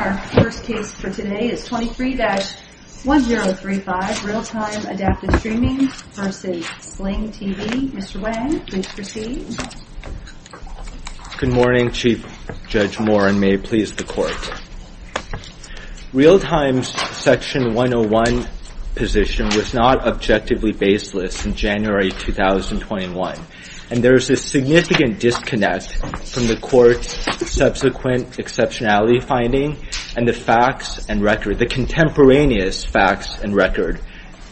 Our first case for today is 23-1035, Realtime Adaptive Streaming v. Sling TV. Mr. Wang, please proceed. Good morning, Chief Judge Moore, and may it please the Court. Realtime's Section 101 position was not objectively baseless in January 2021, and there is a significant disconnect from the Court's subsequent exceptionality finding and the facts and record, the contemporaneous facts and record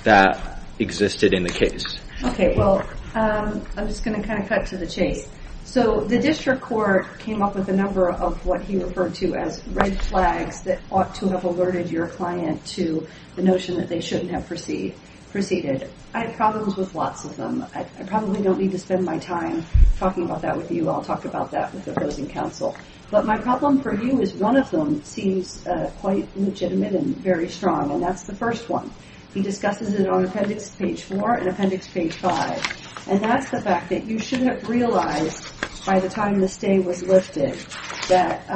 that existed in the case. Okay, well, I'm just going to kind of cut to the chase. So the District Court came up with a number of what he referred to as red flags that ought to have alerted your client to the notion that they shouldn't have proceeded. I have problems with lots of them. I probably don't need to spend my time talking about that with you. I'll talk about that with the opposing counsel. But my problem for you is one of them seems quite legitimate and very strong, and that's the first one. He discusses it on Appendix Page 4 and Appendix Page 5, and that's the fact that you should have realized by the time this day was lifted that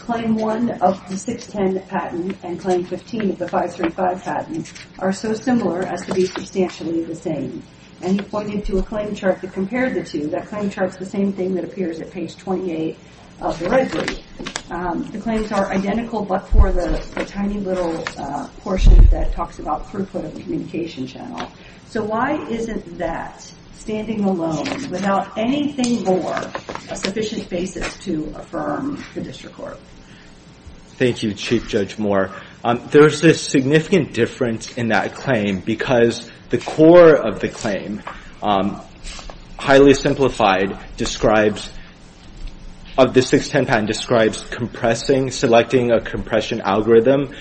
Claim 1 of the 610 patent and Claim 15 of the 535 patent are so similar as to be substantially the same. And he pointed to a claim chart that compared the two. That claim chart's the same thing that appears at Page 28 of the red group. The claims are identical but for the tiny little portion that talks about throughput of the communication channel. So why isn't that standing alone without anything more, a sufficient basis to affirm the District Court? Thank you, Chief Judge Moore. There's a significant difference in that claim because the core of the claim, highly simplified, of the 610 patent describes selecting a compression algorithm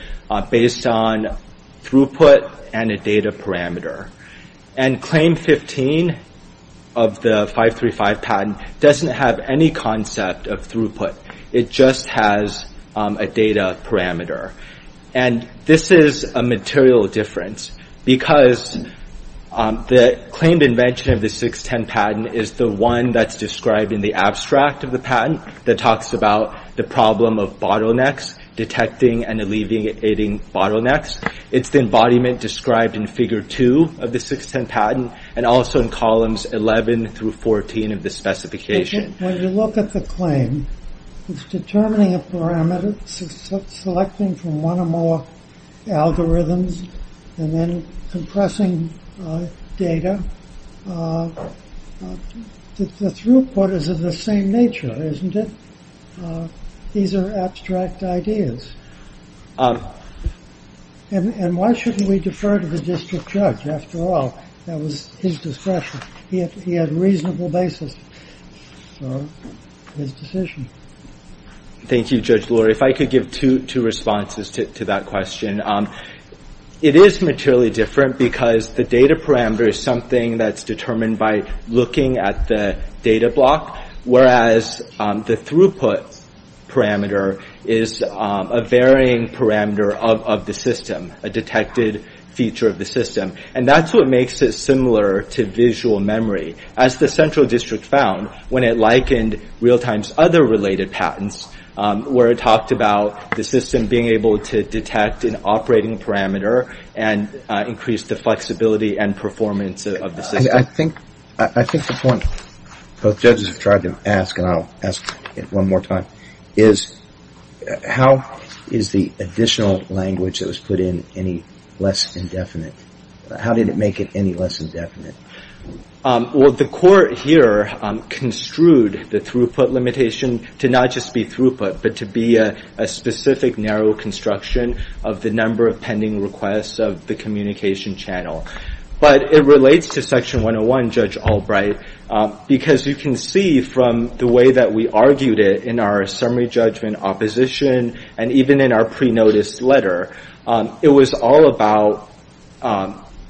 based on throughput and a data parameter. And Claim 15 of the 535 patent doesn't have any concept of throughput. It just has a data parameter. And this is a material difference because the claimed invention of the 610 patent is the one that's described in the abstract of the patent that talks about the problem of bottlenecks, detecting and alleviating bottlenecks. It's the embodiment described in Figure 2 of the 610 patent and also in Columns 11 through 14 of the specification. When you look at the claim, it's determining a parameter, selecting from one or more algorithms, and then compressing data. The throughput is of the same nature, isn't it? These are abstract ideas. And why shouldn't we defer to the District Judge? After all, that was his discretion. He had reasonable basis. So, his decision. Thank you, Judge Lurie. If I could give two responses to that question. It is materially different because the data parameter is something that's determined by looking at the data block, whereas the throughput parameter is a varying parameter of the system, a detected feature of the system. And that's what makes it similar to visual memory. As the Central District found when it likened Realtime's other related patents, where it talked about the system being able to detect an operating parameter and increase the flexibility and performance of the system. I think the point both judges have tried to ask, and I'll ask it one more time, is how is the additional language that was put in any less indefinite? How did it make it any less indefinite? Well, the court here construed the throughput limitation to not just be throughput, but to be a specific narrow construction of the number of pending requests of the communication channel. But it relates to Section 101, Judge Albright, because you can see from the way that we argued it in our summary judgment opposition and even in our pre-notice letter, it was all about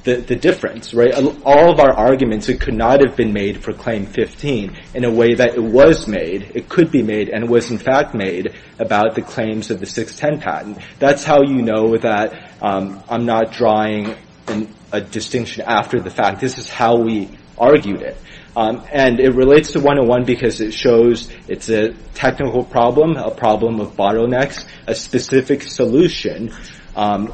the difference, right? All of our arguments, it could not have been made for Claim 15 in a way that it was made, it could be made, and it was in fact made about the claims of the 610 patent. That's how you know that I'm not drawing a distinction after the fact. This is how we argued it. And it relates to 101 because it shows it's a technical problem, a problem of bottlenecks, a specific solution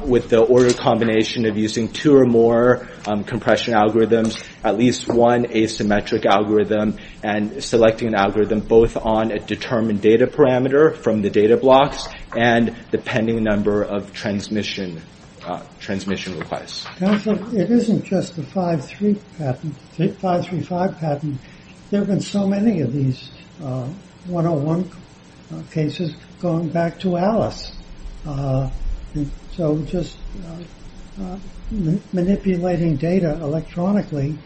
with the order combination of using two or more compression algorithms, at least one asymmetric algorithm, and selecting an algorithm both on a determined data parameter from the data blocks and the pending number of transmission requests. Counsel, it isn't just the 535 patent. There have been so many of these 101 cases going back to Alice. So just manipulating data electronically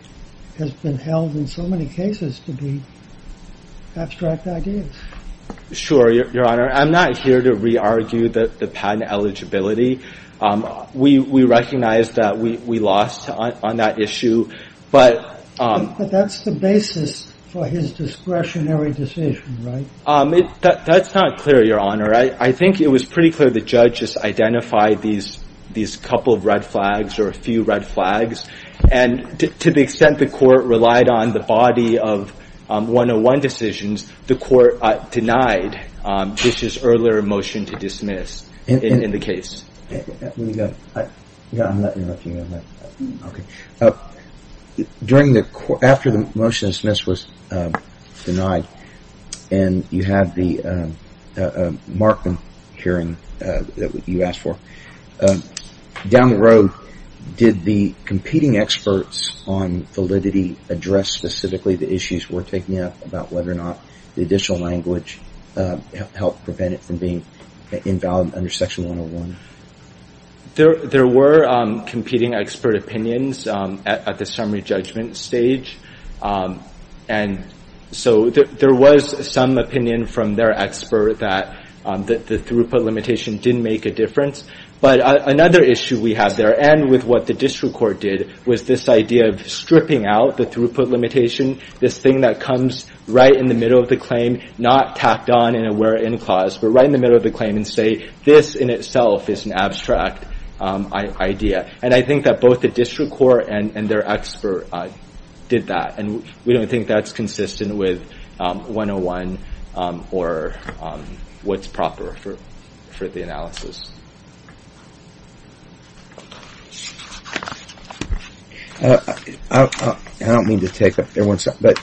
has been held in so many cases to be abstract ideas. Sure, Your Honor. I'm not here to re-argue the patent eligibility. We recognize that we lost on that issue. But that's the basis for his discretionary decision, right? That's not clear, Your Honor. I think it was pretty clear the judges identified these couple of red flags or a few red flags, and to the extent the court relied on the body of 101 decisions, the court denied Dish's earlier motion to dismiss in the case. Let me go. I'm not interrupting you, Your Honor. Okay. During the court, after the motion was dismissed, was denied, and you had the Markham hearing that you asked for, down the road, did the competing experts on validity address specifically the issues we're taking up about whether or not the additional language helped prevent it from being invalid under Section 101? There were competing expert opinions at the summary judgment stage, and so there was some opinion from their expert that the throughput limitation didn't make a difference. But another issue we have there, and with what the district court did, was this idea of stripping out the throughput limitation, this thing that comes right in the middle of the claim, not tacked on in a where in clause, but right in the middle of the claim and say this in itself is an abstract idea. And I think that both the district court and their expert did that, and we don't think that's consistent with 101 or what's proper for the analysis. I don't mean to take up everyone's time, but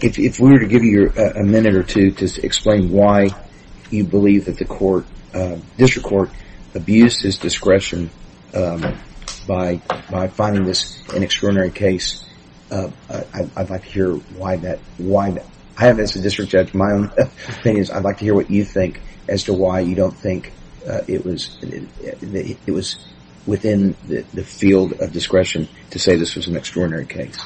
if we were to give you a minute or two to explain why you believe that the district court abused his discretion by finding this an extraordinary case, I'd like to hear why that. I have, as a district judge, my own opinions. I'd like to hear what you think as to why you don't think it was within the field of discretion to say this was an extraordinary case.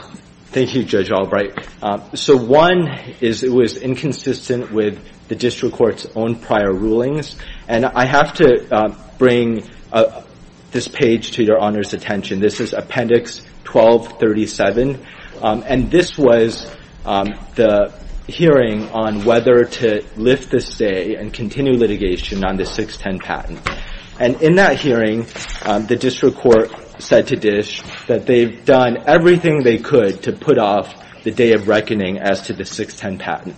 Thank you, Judge Albright. So one is it was inconsistent with the district court's own prior rulings, and I have to bring this page to your Honor's attention. This is Appendix 1237, and this was the hearing on whether to lift the stay and continue litigation on the 610 patent. And in that hearing, the district court said to Dish that they've done everything they could to put off the day of reckoning as to the 610 patent.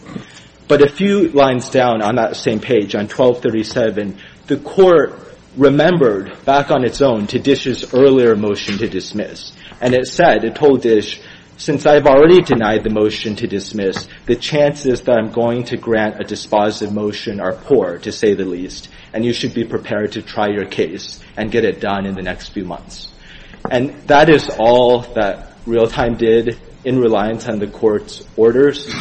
But a few lines down on that same page, on 1237, the court remembered back on its own to Dish's earlier motion to dismiss, and it said, it told Dish, since I've already denied the motion to dismiss, the chances that I'm going to grant a dispositive motion are poor, to say the least, and you should be prepared to try your case and get it done in the next few months. And that is all that Realtime did in reliance on the court's orders.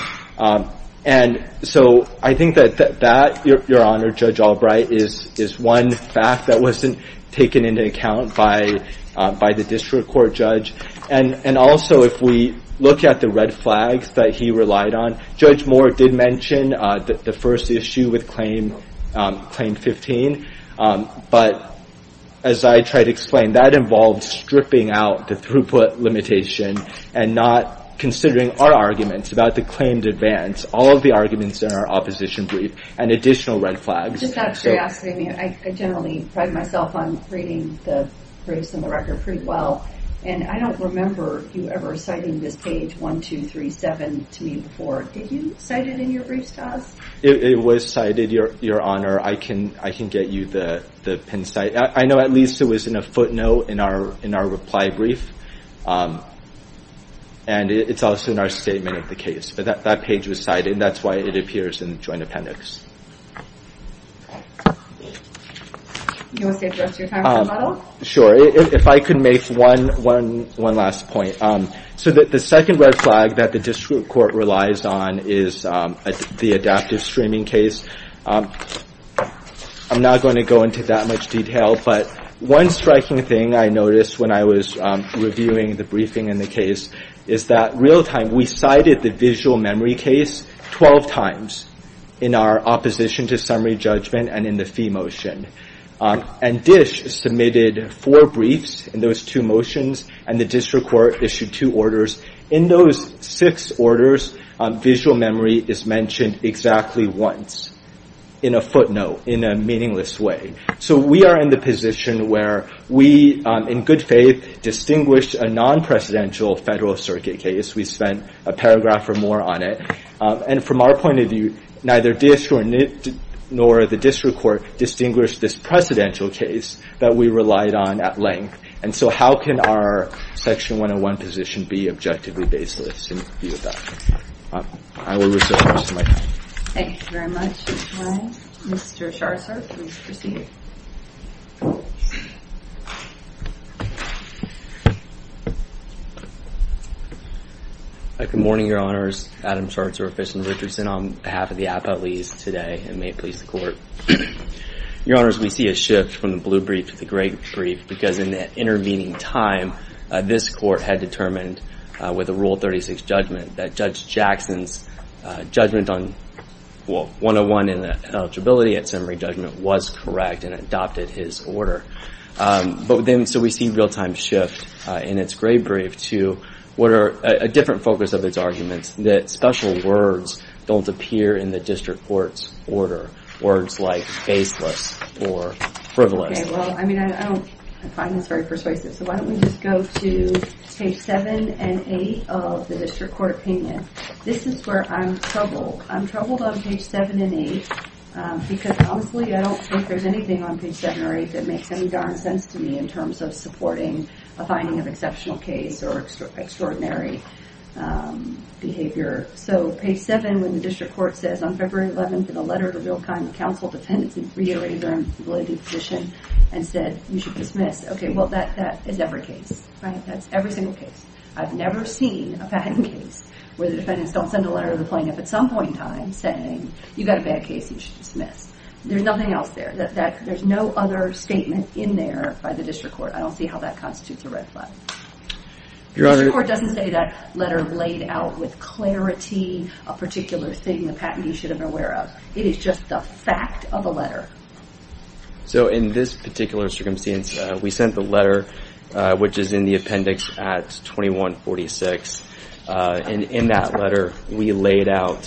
And so I think that that, Your Honor, Judge Albright, is one fact that wasn't taken into account by the district court judge. And also, if we look at the red flags that he relied on, Judge Moore did mention the first issue with Claim 15. But as I tried to explain, that involved stripping out the throughput limitation and not considering our arguments about the claimed advance, all of the arguments in our opposition brief, and additional red flags. I generally pride myself on reading the briefs on the record pretty well, and I don't remember you ever citing this page 1237 to me before. Did you cite it in your briefs, Kaz? It was cited, Your Honor. I can get you the pin site. I know at least it was in a footnote in our reply brief, and it's also in our statement of the case. But that page was cited, and that's why it appears in the Joint Appendix. Do you want to say the rest of your time for the model? Sure. If I could make one last point. So the second red flag that the district court relies on is the adaptive streaming case. I'm not going to go into that much detail, but one striking thing I noticed when I was reviewing the briefing in the case is that real time, we cited the visual memory case 12 times in our opposition to summary judgment and in the fee motion. And DISH submitted four briefs in those two motions, and the district court issued two orders. In those six orders, visual memory is mentioned exactly once in a footnote in a meaningless way. So we are in the position where we, in good faith, distinguished a non-presidential federal circuit case. We spent a paragraph or more on it. And from our point of view, neither DISH nor the district court distinguished this precedential case that we relied on at length. And so how can our Section 101 position be objectively baseless in view of that? I will reserve the rest of my time. Thank you very much. Mr. Scharzer, please proceed. Good morning, Your Honors. Adam Scharzer with Fish and Richardson on behalf of the appellees today, and may it please the Court. Your Honors, we see a shift from the blue brief to the gray brief because in that intervening time, this Court had determined with a Rule 36 judgment that Judge Jackson's judgment on 101 and eligibility at summary judgment was correct and adopted his order. So we see real-time shift in its gray brief to a different focus of its arguments, that special words don't appear in the district court's order, words like baseless or frivolous. I find this very persuasive, so why don't we just go to page 7 and 8 of the district court opinion. This is where I'm troubled. I'm troubled on page 7 and 8 because, honestly, I don't think there's anything on page 7 or 8 that makes any darn sense to me in terms of supporting a finding of exceptional case or extraordinary behavior. So page 7, when the district court says, On February 11th, in a letter of the real kind, the counsel defendants reiterated their unrelated position and said you should dismiss. Okay, well, that is every case. That's every single case. I've never seen a patent case where the defendants don't send a letter to the plaintiff at some point in time saying you've got a bad case and you should dismiss. There's nothing else there. There's no other statement in there by the district court. I don't see how that constitutes a red flag. The district court doesn't say that letter laid out with clarity a particular thing, a patent you should have been aware of. It is just the fact of the letter. So in this particular circumstance, we sent the letter, which is in the appendix at 2146, and in that letter we laid out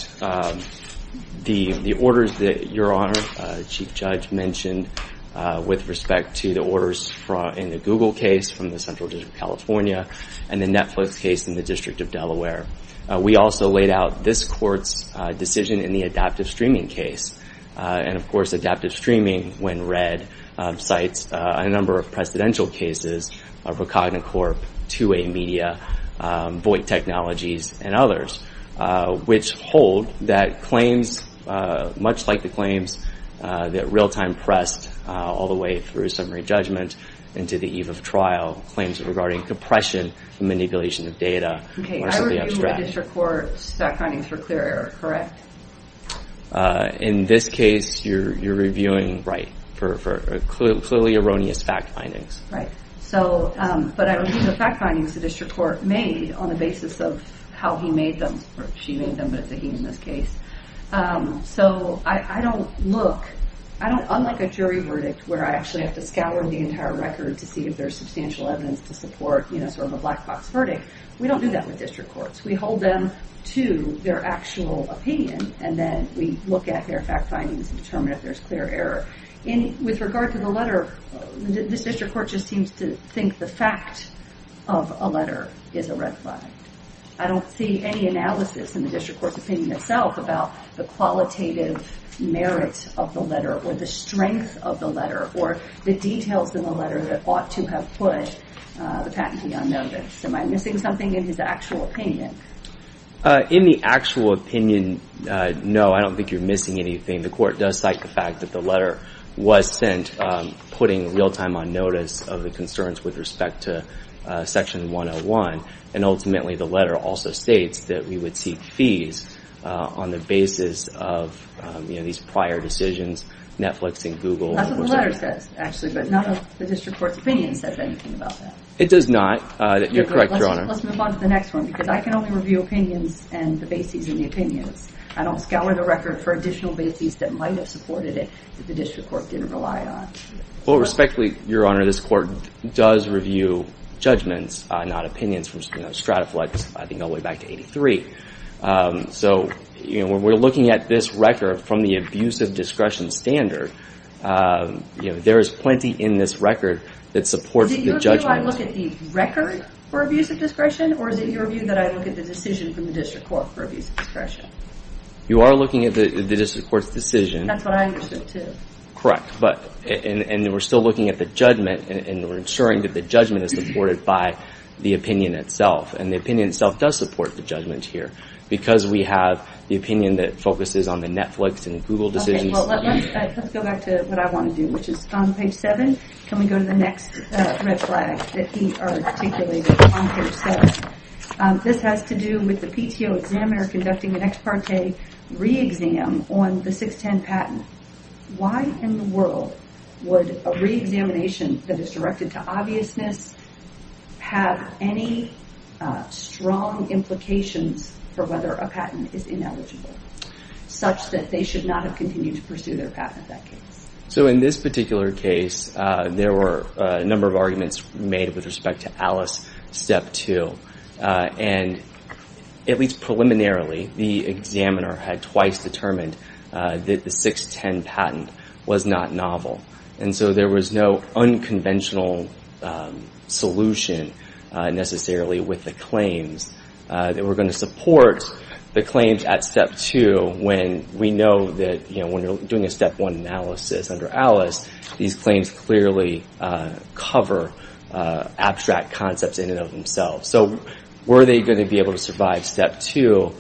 the orders that your Honor, Chief Judge, mentioned with respect to the orders in the Google case from the Central District of California and the Netflix case in the District of Delaware. We also laid out this court's decision in the adaptive streaming case. And, of course, adaptive streaming, when read, a number of precedential cases of a Cognacorp, 2A Media, Voight Technologies, and others, which hold that claims, much like the claims that Realtime pressed all the way through summary judgment into the eve of trial, claims regarding compression and manipulation of data are simply abstract. Okay, I review the district court's backgroundings for clear error, correct? In this case, you're reviewing, right, for clearly erroneous fact findings. Right, but I review the fact findings the district court made on the basis of how he made them, or she made them, but it's a he in this case. So I don't look, unlike a jury verdict where I actually have to scour the entire record to see if there's substantial evidence to support sort of a black box verdict, we don't do that with district courts. We hold them to their actual opinion, and then we look at their fact findings and determine if there's clear error. With regard to the letter, this district court just seems to think the fact of a letter is a red flag. I don't see any analysis in the district court's opinion itself about the qualitative merits of the letter or the strength of the letter or the details in the letter that ought to have put the patentee on notice. Am I missing something in his actual opinion? In the actual opinion, no, I don't think you're missing anything. The court does cite the fact that the letter was sent putting real-time on notice of the concerns with respect to Section 101, and ultimately the letter also states that we would seek fees on the basis of these prior decisions, Netflix and Google. That's what the letter says, actually, but none of the district court's opinion says anything about that. It does not. You're correct, Your Honor. Let's move on to the next one, because I can only review opinions and the bases in the opinions. I don't scour the record for additional bases that might have supported it that the district court didn't rely on. Well, respectfully, Your Honor, this court does review judgments, not opinions, from Strataflex, I think all the way back to 1983. So when we're looking at this record from the abusive discretion standard, there is plenty in this record that supports the judgment. Is it your view that I look at the record for abusive discretion, or is it your view that I look at the decision from the district court for abusive discretion? You are looking at the district court's decision. That's what I understood, too. Correct, and we're still looking at the judgment, and we're ensuring that the judgment is supported by the opinion itself, and the opinion itself does support the judgment here, because we have the opinion that focuses on the Netflix and Google decisions. Let's go back to what I want to do, which is on page 7. Can we go to the next red flag that he articulated on page 7? This has to do with the PTO examiner conducting an ex parte re-exam on the 610 patent. Why in the world would a re-examination that is directed to obviousness have any strong implications for whether a patent is ineligible, such that they should not have continued to pursue their patent in that case? In this particular case, there were a number of arguments made with respect to Alice Step 2. At least preliminarily, the examiner had twice determined that the 610 patent was not novel. There was no unconventional solution necessarily with the claims that were going to support the claims at Step 2, when we know that when you're doing a Step 1 analysis under Alice, these claims clearly cover abstract concepts in and of themselves. So were they going to be able to survive Step 2?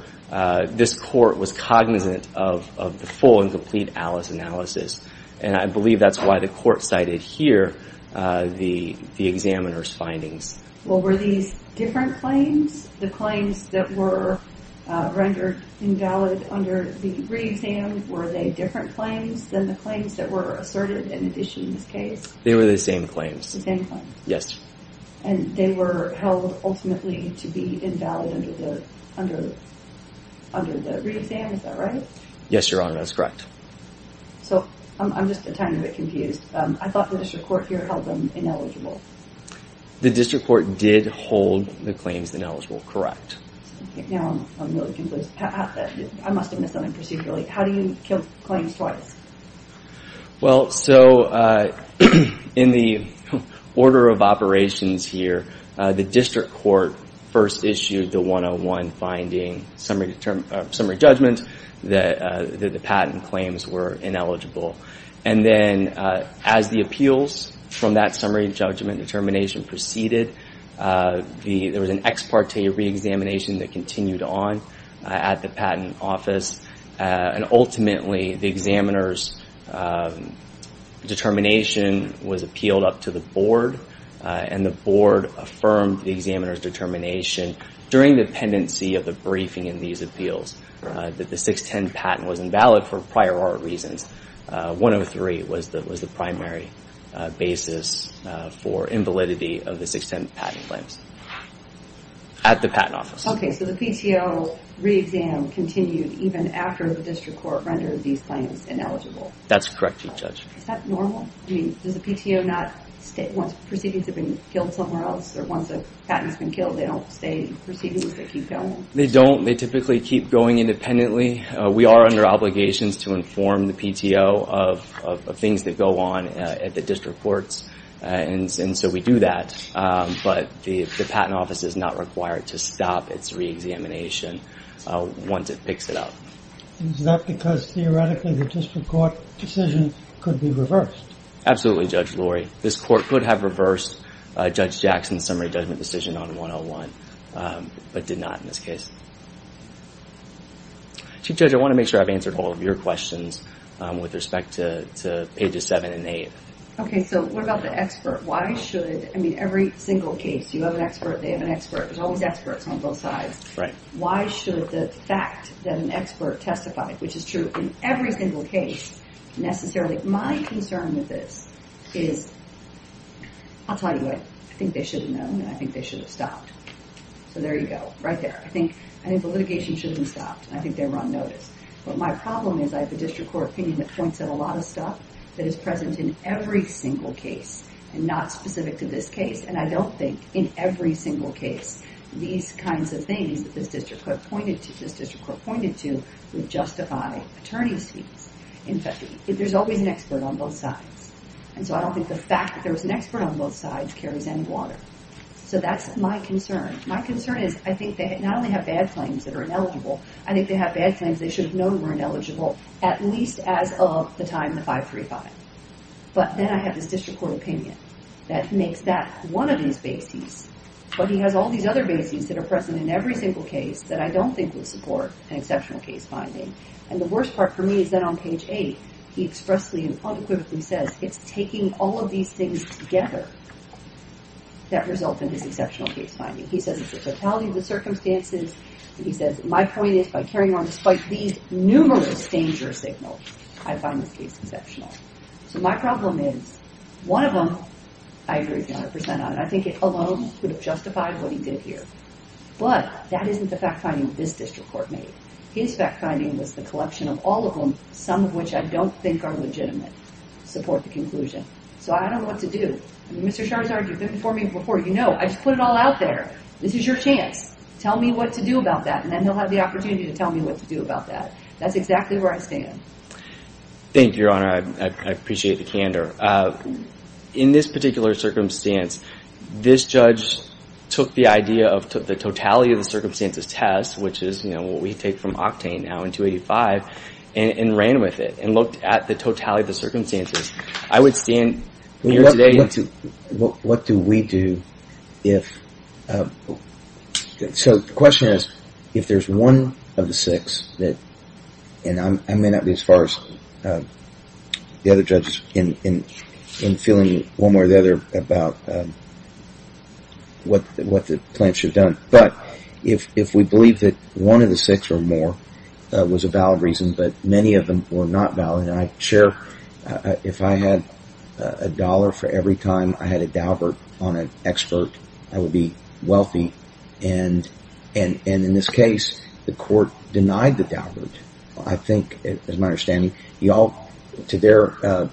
This court was cognizant of the full and complete Alice analysis, and I believe that's why the court cited here the examiner's findings. Well, were these different claims? The claims that were rendered invalid under the re-exam, were they different claims than the claims that were asserted in addition in this case? They were the same claims. The same claims. Yes. And they were held ultimately to be invalid under the re-exam, is that right? Yes, Your Honor, that's correct. So, I'm just a tiny bit confused. I thought the district court here held them ineligible. The district court did hold the claims ineligible, correct. Now I'm really confused. I must have missed something procedurally. How do you kill claims twice? Well, so in the order of operations here, the district court first issued the 101 finding summary judgment that the patent claims were ineligible. And then as the appeals from that summary judgment determination proceeded, there was an ex parte re-examination that continued on at the patent office, and ultimately the examiner's determination was appealed up to the board, and the board affirmed the examiner's determination during the pendency of the briefing in these appeals that the 610 patent was invalid for prior art reasons. 103 was the primary basis for invalidity of the 610 patent claims at the patent office. Okay, so the PTO re-exam continued even after the district court rendered these claims ineligible. That's correct, Chief Judge. Is that normal? I mean, does the PTO not, once proceedings have been killed somewhere else, or once a patent's been killed, they don't stay in proceedings, they keep going? They don't. They typically keep going independently. We are under obligations to inform the PTO of things that go on at the district courts, and so we do that. But the patent office is not required to stop its re-examination once it picks it up. Is that because theoretically the district court decision could be reversed? Absolutely, Judge Lurie. This court could have reversed Judge Jackson's summary judgment decision on 101, but did not in this case. Chief Judge, I want to make sure I've answered all of your questions with respect to pages 7 and 8. Okay, so what about the expert? Why should, I mean, every single case, you have an expert, they have an expert, there's always experts on both sides. Why should the fact that an expert testified, which is true in every single case, necessarily, my concern with this is, I'll tell you what, I think they should have known, and I think they should have stopped. So there you go, right there. I think the litigation should have been stopped, and I think they were on notice. But my problem is I have a district court opinion that points at a lot of stuff that is present in every single case and not specific to this case, and I don't think in every single case these kinds of things that this district court pointed to would justify attorney's fees. In fact, there's always an expert on both sides, and so I don't think the fact that there was an expert on both sides carries any water. So that's my concern. My concern is I think they not only have bad claims that are ineligible, I think they have bad claims they should have known were ineligible, at least as of the time of 535. But then I have this district court opinion that makes that one of these bases, but he has all these other bases that are present in every single case that I don't think would support an exceptional case finding. And the worst part for me is that on page 8 he expressly and unequivocally says it's taking all of these things together that result in this exceptional case finding. He says it's the fatality of the circumstances, and he says my point is by carrying on despite these numerous danger signals, I find this case exceptional. So my problem is one of them I agree 100% on, and I think it alone would have justified what he did here. But that isn't the fact finding this district court made. His fact finding was the collection of all of them, some of which I don't think are legitimate, support the conclusion. So I don't know what to do. Mr. Scharzard, you've been before me before. You know, I just put it all out there. This is your chance. Tell me what to do about that, and then he'll have the opportunity to tell me what to do about that. That's exactly where I stand. Thank you, Your Honor. I appreciate the candor. In this particular circumstance, this judge took the idea of the totality of the circumstances test, which is, you know, what we take from Octane now in 285, and ran with it and looked at the totality of the circumstances. I would stand here today. What do we do if so the question is if there's one of the six that, and I may not be as far as the other judges in feeling one way or the other about what the plaintiffs should have done, but if we believe that one of the six or more was a valid reason, but many of them were not valid, and I'm sure if I had a dollar for every time I had a daubert on an expert, I would be wealthy, and in this case, the court denied the daubert. I think, as my understanding, you all, to their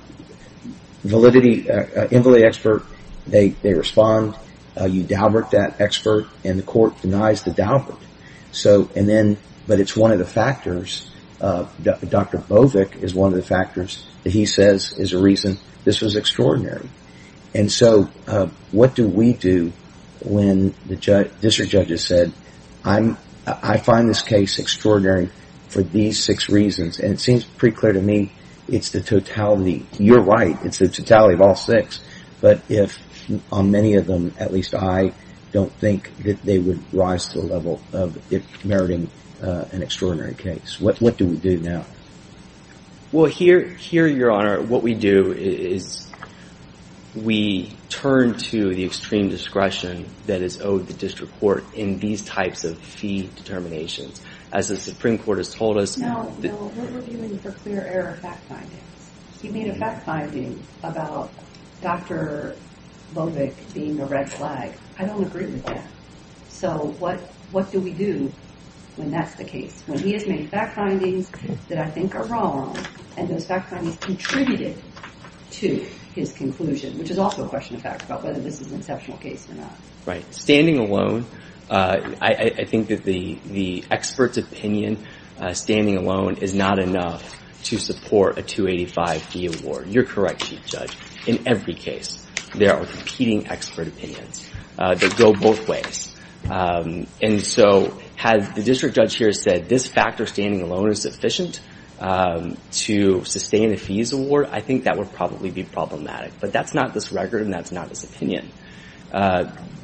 validity, invalid expert, they respond. You daubert that expert, and the court denies the daubert, but it's one of the factors. Dr. Bovic is one of the factors that he says is a reason this was extraordinary, and so what do we do when the district judges said, I find this case extraordinary for these six reasons, and it seems pretty clear to me it's the totality. You're right. It's the totality of all six, but if on many of them, at least I don't think that they would rise to the level of it meriting an extraordinary case. What do we do now? Well, here, Your Honor, what we do is we turn to the extreme discretion that is owed the district court in these types of fee determinations. As the Supreme Court has told us, Now, what were you doing for clear error fact findings? He made a fact finding about Dr. Bovic being a red flag. I don't agree with that. So what do we do when that's the case, when he has made fact findings that I think are wrong, and those fact findings contributed to his conclusion, which is also a question of fact about whether this is an exceptional case or not. Right. Standing alone, I think that the expert's opinion, standing alone is not enough to support a 285 fee award. You're correct, Chief Judge. In every case, there are competing expert opinions that go both ways. And so had the district judge here said this factor, standing alone, is sufficient to sustain a fees award, I think that would probably be problematic. But that's not this record, and that's not his opinion.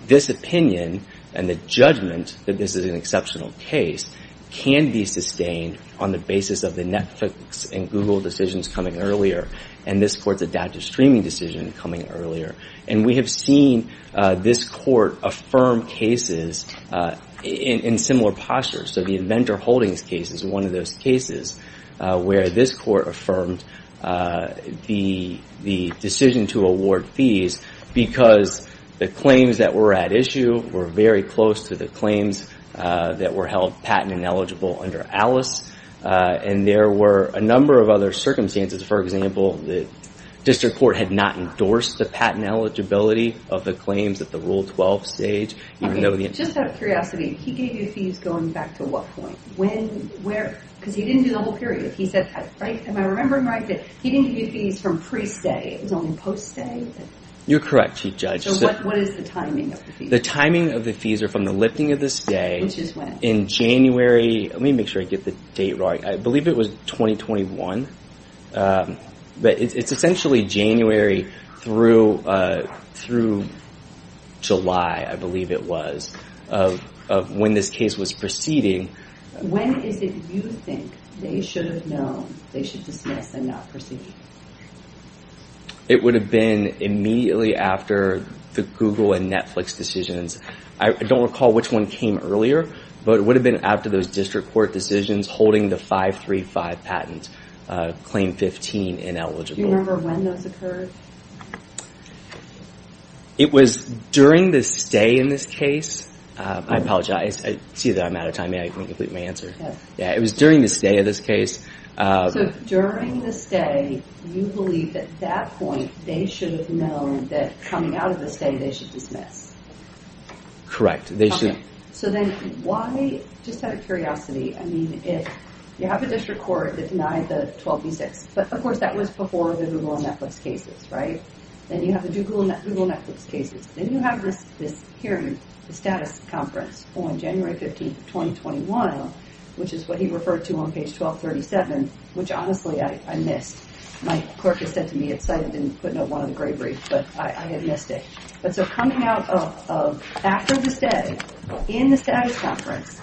This opinion, and the judgment that this is an exceptional case, can be sustained on the basis of the Netflix and Google decisions coming earlier, and this Court's adaptive streaming decision coming earlier. And we have seen this Court affirm cases in similar postures. So the Inventor Holdings case is one of those cases where this Court affirmed the decision to award fees because the claims that were at issue were very close to the claims that were held patent ineligible under Alice. And there were a number of other circumstances. For example, the district court had not endorsed the patent eligibility of the claims at the Rule 12 stage. Just out of curiosity, he gave you fees going back to what point? When, where? Because he didn't do the whole period. He said, am I remembering right, that he didn't give you fees from pre-stay? It was only post-stay? You're correct, Chief Judge. So what is the timing of the fees? The timing of the fees are from the lifting of the stay in January. Let me make sure I get the date right. I believe it was 2021. But it's essentially January through July, I believe it was, of when this case was proceeding. When is it you think they should have known they should dismiss and not proceed? It would have been immediately after the Google and Netflix decisions. I don't recall which one came earlier, but it would have been after those district court decisions holding the 535 patent claim 15 ineligible. Do you remember when those occurred? It was during the stay in this case. I apologize. I see that I'm out of time. I didn't complete my answer. Yes. It was during the stay of this case. So during the stay, you believe at that point, they should have known that coming out of the stay, they should dismiss? Correct. So then why, just out of curiosity, I mean, you have a district court that denied the 12B6, but of course that was before the Google and Netflix cases, right? Then you have the Google and Netflix cases. Then you have this hearing, the status conference on January 15, 2021, which is what he referred to on page 1237, which honestly I missed. My clerk has said to me, it's cited in putting up one of the great briefs, but I had missed it. But so coming out of after the stay in the status conference,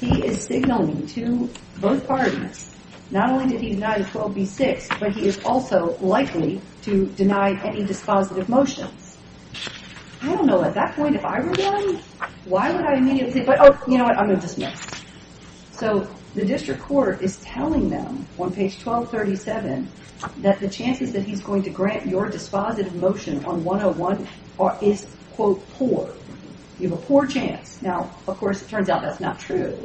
he is signaling to both parties, not only did he deny the 12B6, but he is also likely to deny any dispositive motions. I don't know at that point if I were done, why would I immediately, but oh, you know what? I'm going to dismiss. So the district court is telling them on page 1237 that the chances that he's going to grant your dispositive motion on 101 is, quote, poor. You have a poor chance. Now, of course, it turns out that's not true.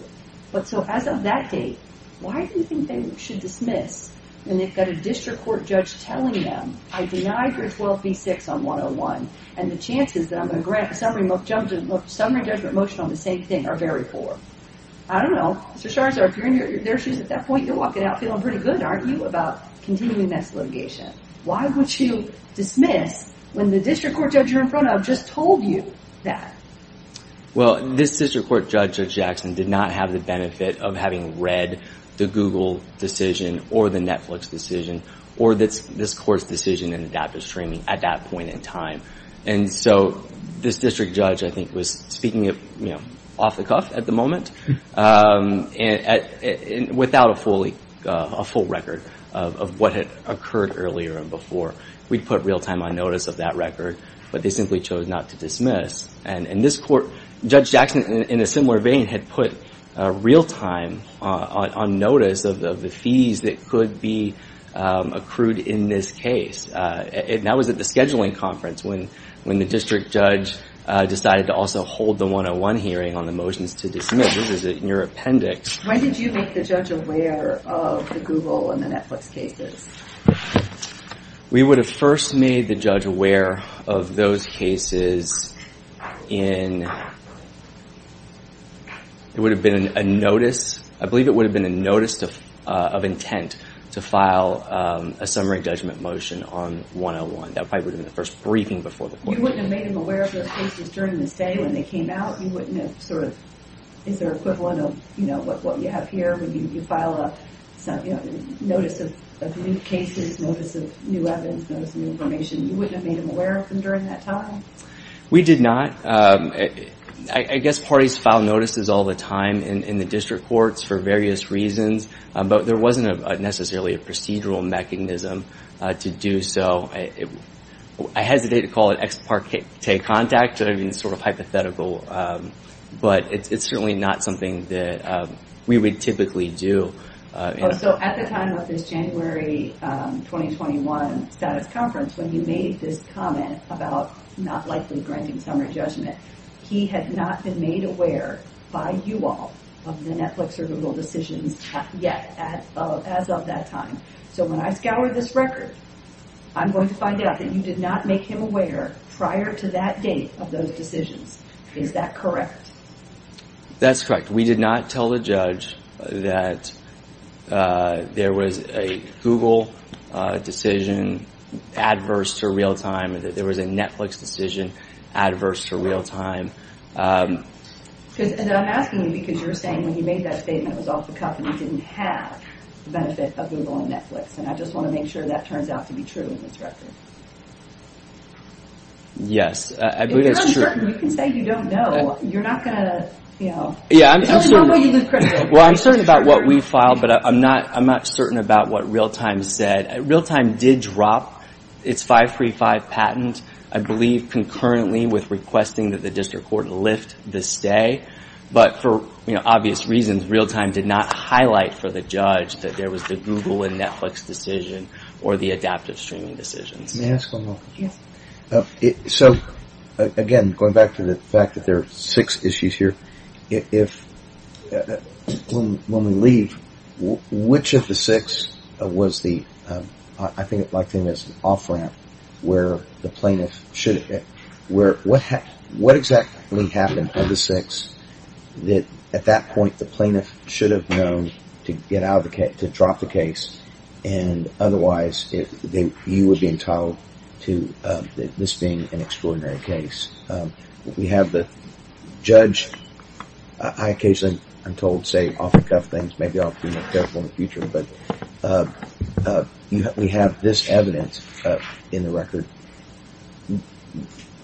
But so as of that date, why do you think they should dismiss when they've got a district court judge telling them, I deny your 12B6 on 101, and the chances that I'm going to grant a summary judgment motion on the same thing are very poor? I don't know. Mr. Scharzer, if you're in your shoes at that point, you're walking out feeling pretty good, aren't you, about continuing this litigation. Why would you dismiss when the district court judge you're in front of just told you that? Well, this district court judge, Judge Jackson, did not have the benefit of having read the Google decision or the Netflix decision or this court's decision in adaptive streaming at that point in time. And so this district judge, I think, was speaking off the cuff at the moment without a full record of what had occurred earlier and before. We'd put real time on notice of that record, but they simply chose not to dismiss. And this court, Judge Jackson, in a similar vein, had put real time on notice of the fees that could be accrued in this case. And that was at the scheduling conference when the district judge decided to also hold the 101 hearing on the motions to dismiss. This is in your appendix. When did you make the judge aware of the Google and the Netflix cases? We would have first made the judge aware of those cases in... It would have been a notice. I believe it would have been a notice of intent to file a summary judgment motion on 101. That probably would have been the first briefing before the court. You wouldn't have made him aware of those cases during the stay when they came out? You wouldn't have sort of... Is there an equivalent of what you have here when you file a notice of new cases, notice of new evidence, notice of new information? You wouldn't have made him aware of them during that time? We did not. I guess parties file notices all the time in the district courts for various reasons. But there wasn't necessarily a procedural mechanism to do so. I hesitate to call it ex parte contact. It would have been sort of hypothetical. But it's certainly not something that we would typically do. So at the time of this January 2021 status conference when you made this comment about not likely granting summary judgment, he had not been made aware by you all of the Netflix or Google decisions yet as of that time. So when I scour this record, I'm going to find out that you did not make him aware prior to that date of those decisions. Is that correct? That's correct. We did not tell the judge that there was a Google decision adverse to real time, that there was a Netflix decision adverse to real time. And I'm asking you because you're saying when he made that statement it was off the cuff and he didn't have the benefit of Google and Netflix. And I just want to make sure that turns out to be true in this record. Yes, I believe that's true. If you're uncertain, you can say you don't know. You're not going to, you know. Well, I'm certain about what we filed, but I'm not certain about what real time said. Real time did drop its 535 patent, I believe, concurrently with requesting that the district court lift the stay. But for obvious reasons, real time did not highlight for the judge that there was the Google and Netflix decision or the adaptive streaming decisions. May I ask one more? Yes. So, again, going back to the fact that there are six issues here, if, when we leave, which of the six was the, I think it's like saying there's an off ramp where the plaintiff should, where, what exactly happened of the six that at that point the plaintiff should have known to get out of the case, to drop the case, and otherwise you would be entitled to this being an extraordinary case. We have the judge, I occasionally, I'm told, say off the cuff things, maybe I'll be more careful in the future, but we have this evidence in the record.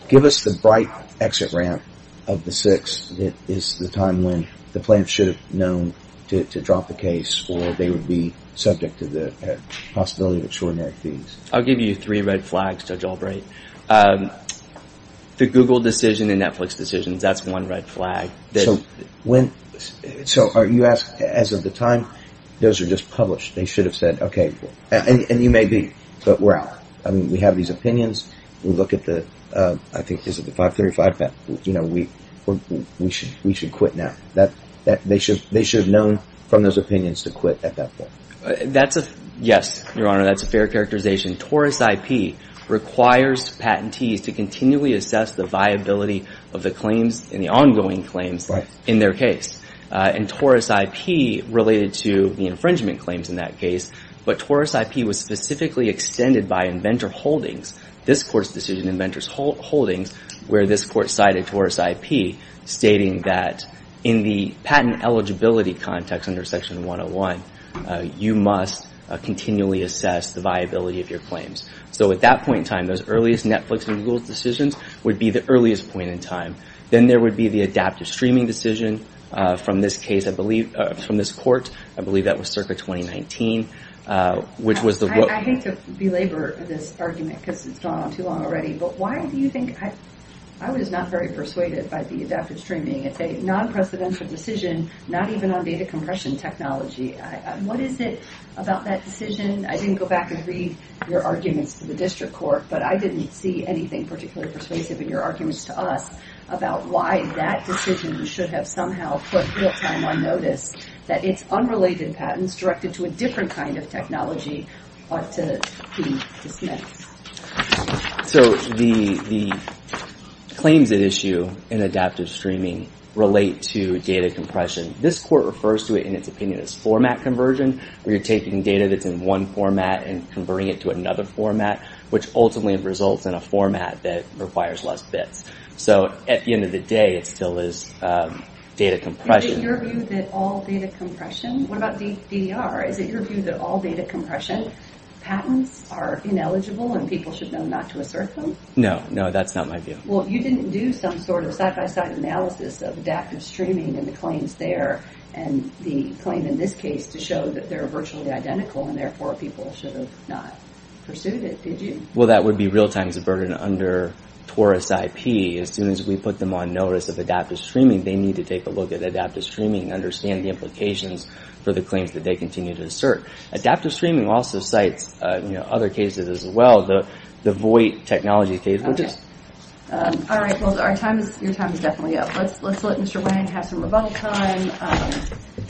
Give us the bright exit ramp of the six that is the time when the plaintiff should have known to drop the case or they would be subject to the possibility of extraordinary fees. I'll give you three red flags, Judge Albright. The Google decision and Netflix decisions, that's one red flag. So, you ask, as of the time, those are just published. They should have said, okay, and you may be, but we're out. I mean, we have these opinions, we look at the, I think, is it the 535 patent, you know, we should quit now. They should have known from those opinions to quit at that point. That's a, yes, Your Honor, that's a fair characterization. TORUS IP requires patentees to continually assess the viability of the claims and the ongoing claims in their case. And TORUS IP related to the infringement claims in that case, but TORUS IP was specifically extended by Inventor Holdings, this Court's decision, Inventor Holdings, where this Court cited TORUS IP stating that in the patent eligibility context under Section 101, you must continually assess the viability of your claims. So, at that point in time, those earliest Netflix and Google decisions would be the earliest point in time. Then there would be the adaptive streaming decision from this case, I believe, from this Court. I believe that was circa 2019, which was the... I hate to belabor this argument because it's gone on too long already, but why do you think, I was not very persuaded by the adaptive streaming. It's a non-precedential decision, not even on data compression technology. What is it about that decision? I didn't go back and read your arguments to the District Court, but I didn't see anything particularly persuasive in your arguments to us about why that decision should have somehow put real-time on notice that it's unrelated patents directed to a different kind of technology ought to be dismissed. So, the claims at issue in adaptive streaming relate to data compression. This Court refers to it in its opinion as format conversion, where you're taking data that's in one format and converting it to another format, which ultimately results in a format that requires less bits. So, at the end of the day, it still is data compression. Is it your view that all data compression... What about DDR? Is it your view that all data compression patents are ineligible and people should know not to assert them? No, no, that's not my view. Well, you didn't do some sort of side-by-side analysis of adaptive streaming and the claims there, and the claim in this case to show that they're virtually identical and therefore people should have not pursued it, did you? Well, that would be real-time's burden under TORUS IP. As soon as we put them on notice of adaptive streaming, they need to take a look at adaptive streaming and understand the implications for the claims that they continue to assert. Adaptive streaming also cites other cases as well. The Voight technology case, which is... Okay. All right, well, your time is definitely up. Let's let Mr. Wayne have some rebuttal time.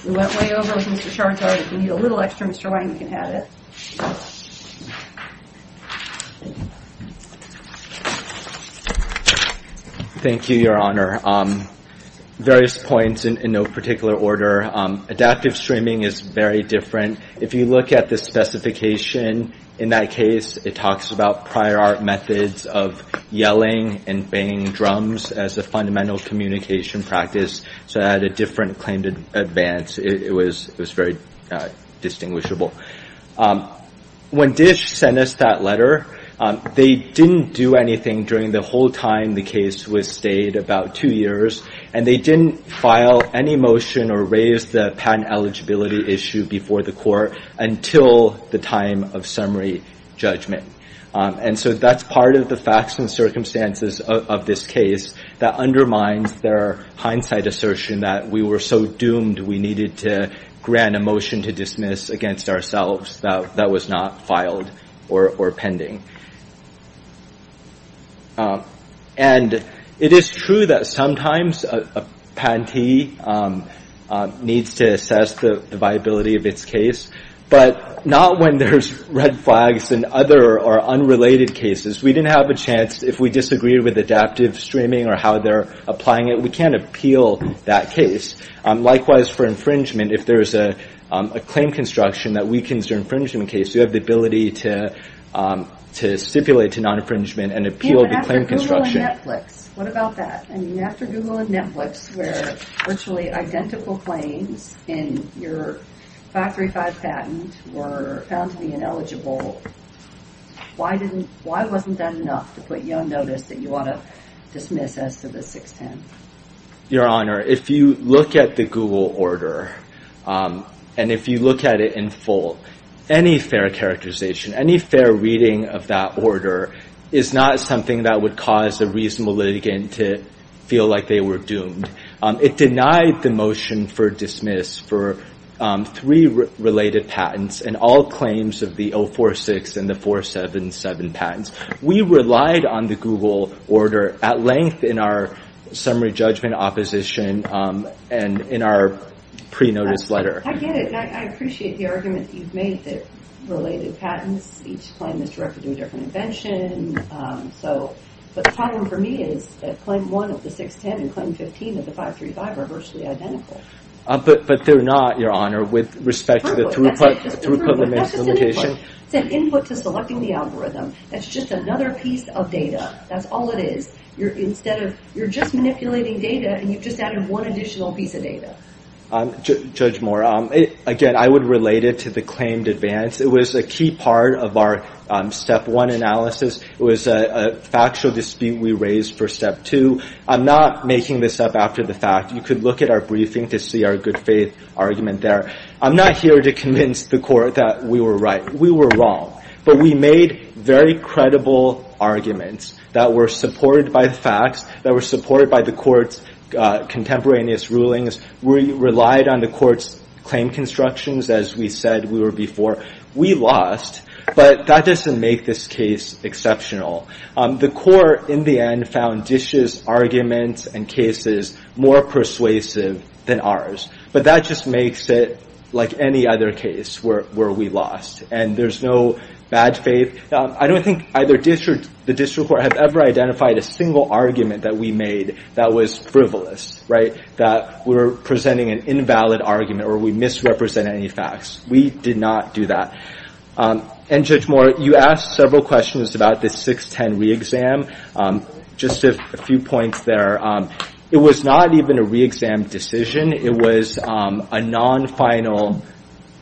We went way over with Mr. Chartard. We need a little extra. Mr. Wayne can have it. Thank you, Your Honor. Various points in no particular order. Adaptive streaming is very different. If you look at the specification in that case, it talks about prior art methods of yelling and banging drums as a fundamental communication practice. So it had a different claim to advance. It was very distinguishable. When DISH sent us that letter, they didn't do anything during the whole time the case was stayed, about two years. And they didn't file any motion or raise the patent eligibility issue before the court until the time of summary judgment. And so that's part of the facts and circumstances of this case that undermines their hindsight assertion that we were so doomed we needed to grant a motion to dismiss against ourselves that was not filed or pending. And it is true that sometimes a patentee needs to assess the viability of its case, but not when there's red flags in other or unrelated cases. We didn't have a chance. If we disagreed with adaptive streaming or how they're applying it, we can't appeal that case. Likewise, for infringement, if there's a claim construction that weakens your infringement case, you have the ability to stipulate to non-infringement and appeal the claim construction. What about that? I mean, after Google and Netflix where virtually identical claims in your 535 patent were found to be ineligible, why wasn't that enough to put you on notice that you ought to dismiss as to the 610? Your Honor, if you look at the Google order and if you look at it in full, any fair characterization, any fair reading of that order is not something that would cause a reasonable litigant to feel like they were doomed. It denied the motion for dismiss for three related patents and all claims of the 046 and the 477 patents. We relied on the Google order at length in our summary judgment opposition and in our pre-notice letter. I get it, and I appreciate the argument that you've made that related patents, each claim is directed to a different invention. But the problem for me is that Claim 1 of the 610 and Claim 15 of the 535 are virtually identical. But they're not, Your Honor, with respect to the throughput limits limitation. It's an input to selecting the algorithm. That's just another piece of data. That's all it is. You're just manipulating data, and you've just added one additional piece of data. Judge Moore, again, I would relate it to the claimed advance. It was a key part of our Step 1 analysis. It was a factual dispute we raised for Step 2. I'm not making this up after the fact. You could look at our briefing to see our good-faith argument there. I'm not here to convince the Court that we were right. We were wrong. But we made very credible arguments that were supported by the facts, that were supported by the Court's contemporaneous rulings. We relied on the Court's claim constructions, as we said we were before. We lost, but that doesn't make this case exceptional. The Court, in the end, found Dish's arguments and cases more persuasive than ours. But that just makes it like any other case where we lost. And there's no bad faith. I don't think either Dish or the District Court have ever identified a single argument that we made that was frivolous, right? That we were presenting an invalid argument or we misrepresented any facts. We did not do that. And, Judge Moore, you asked several questions about the 6-10 re-exam. Just a few points there. It was not even a re-exam decision. It was a non-final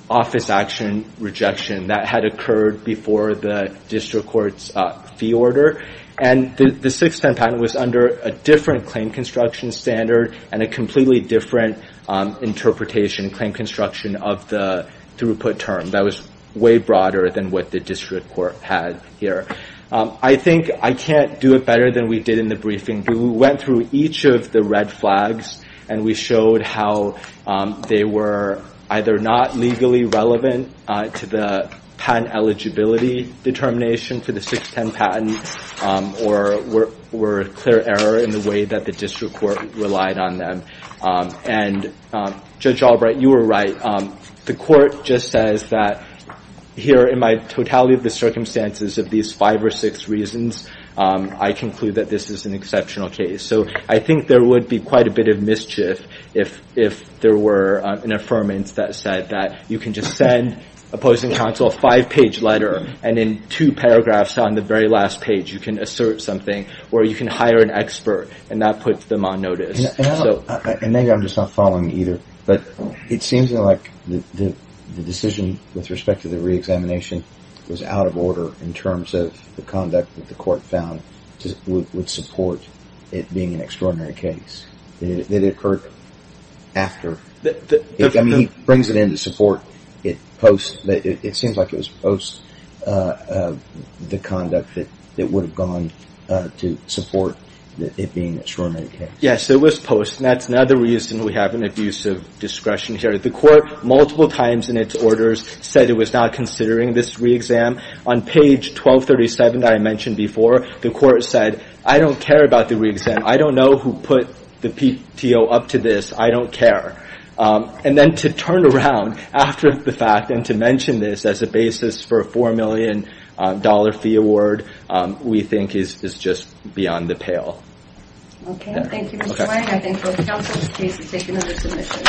office action rejection that had occurred before the District Court's fee order. And the 6-10 patent was under a different claim construction standard and a completely different interpretation and claim construction of the throughput term. That was way broader than what the District Court had here. I think I can't do it better than we did in the briefing. We went through each of the red flags and we showed how they were either not legally relevant to the patent eligibility determination for the 6-10 patent or were a clear error in the way that the District Court relied on them. And, Judge Albright, you were right. The court just says that here, in my totality of the circumstances of these five or six reasons, I conclude that this is an exceptional case. So I think there would be quite a bit of mischief if there were an affirmance that said that you can just send opposing counsel a five-page letter and in two paragraphs on the very last page you can assert something or you can hire an expert and not put them on notice. And maybe I'm just not following either, but it seems like the decision with respect to the re-examination was out of order in terms of the conduct that the court found would support it being an extraordinary case. It occurred after. I mean, he brings it in to support it post. It seems like it was post the conduct that it would have gone to support it being an extraordinary case. Yes, it was post, and that's another reason we have an abuse of discretion here. The court, multiple times in its orders, said it was not considering this re-exam. On page 1237 that I mentioned before, the court said, I don't care about the re-exam. I don't know who put the PTO up to this. I don't care. And then to turn around after the fact and to mention this as a basis for a $4 million fee award we think is just beyond the pale. Okay, thank you, Mr. Wang. I think both counsels' cases take another submission.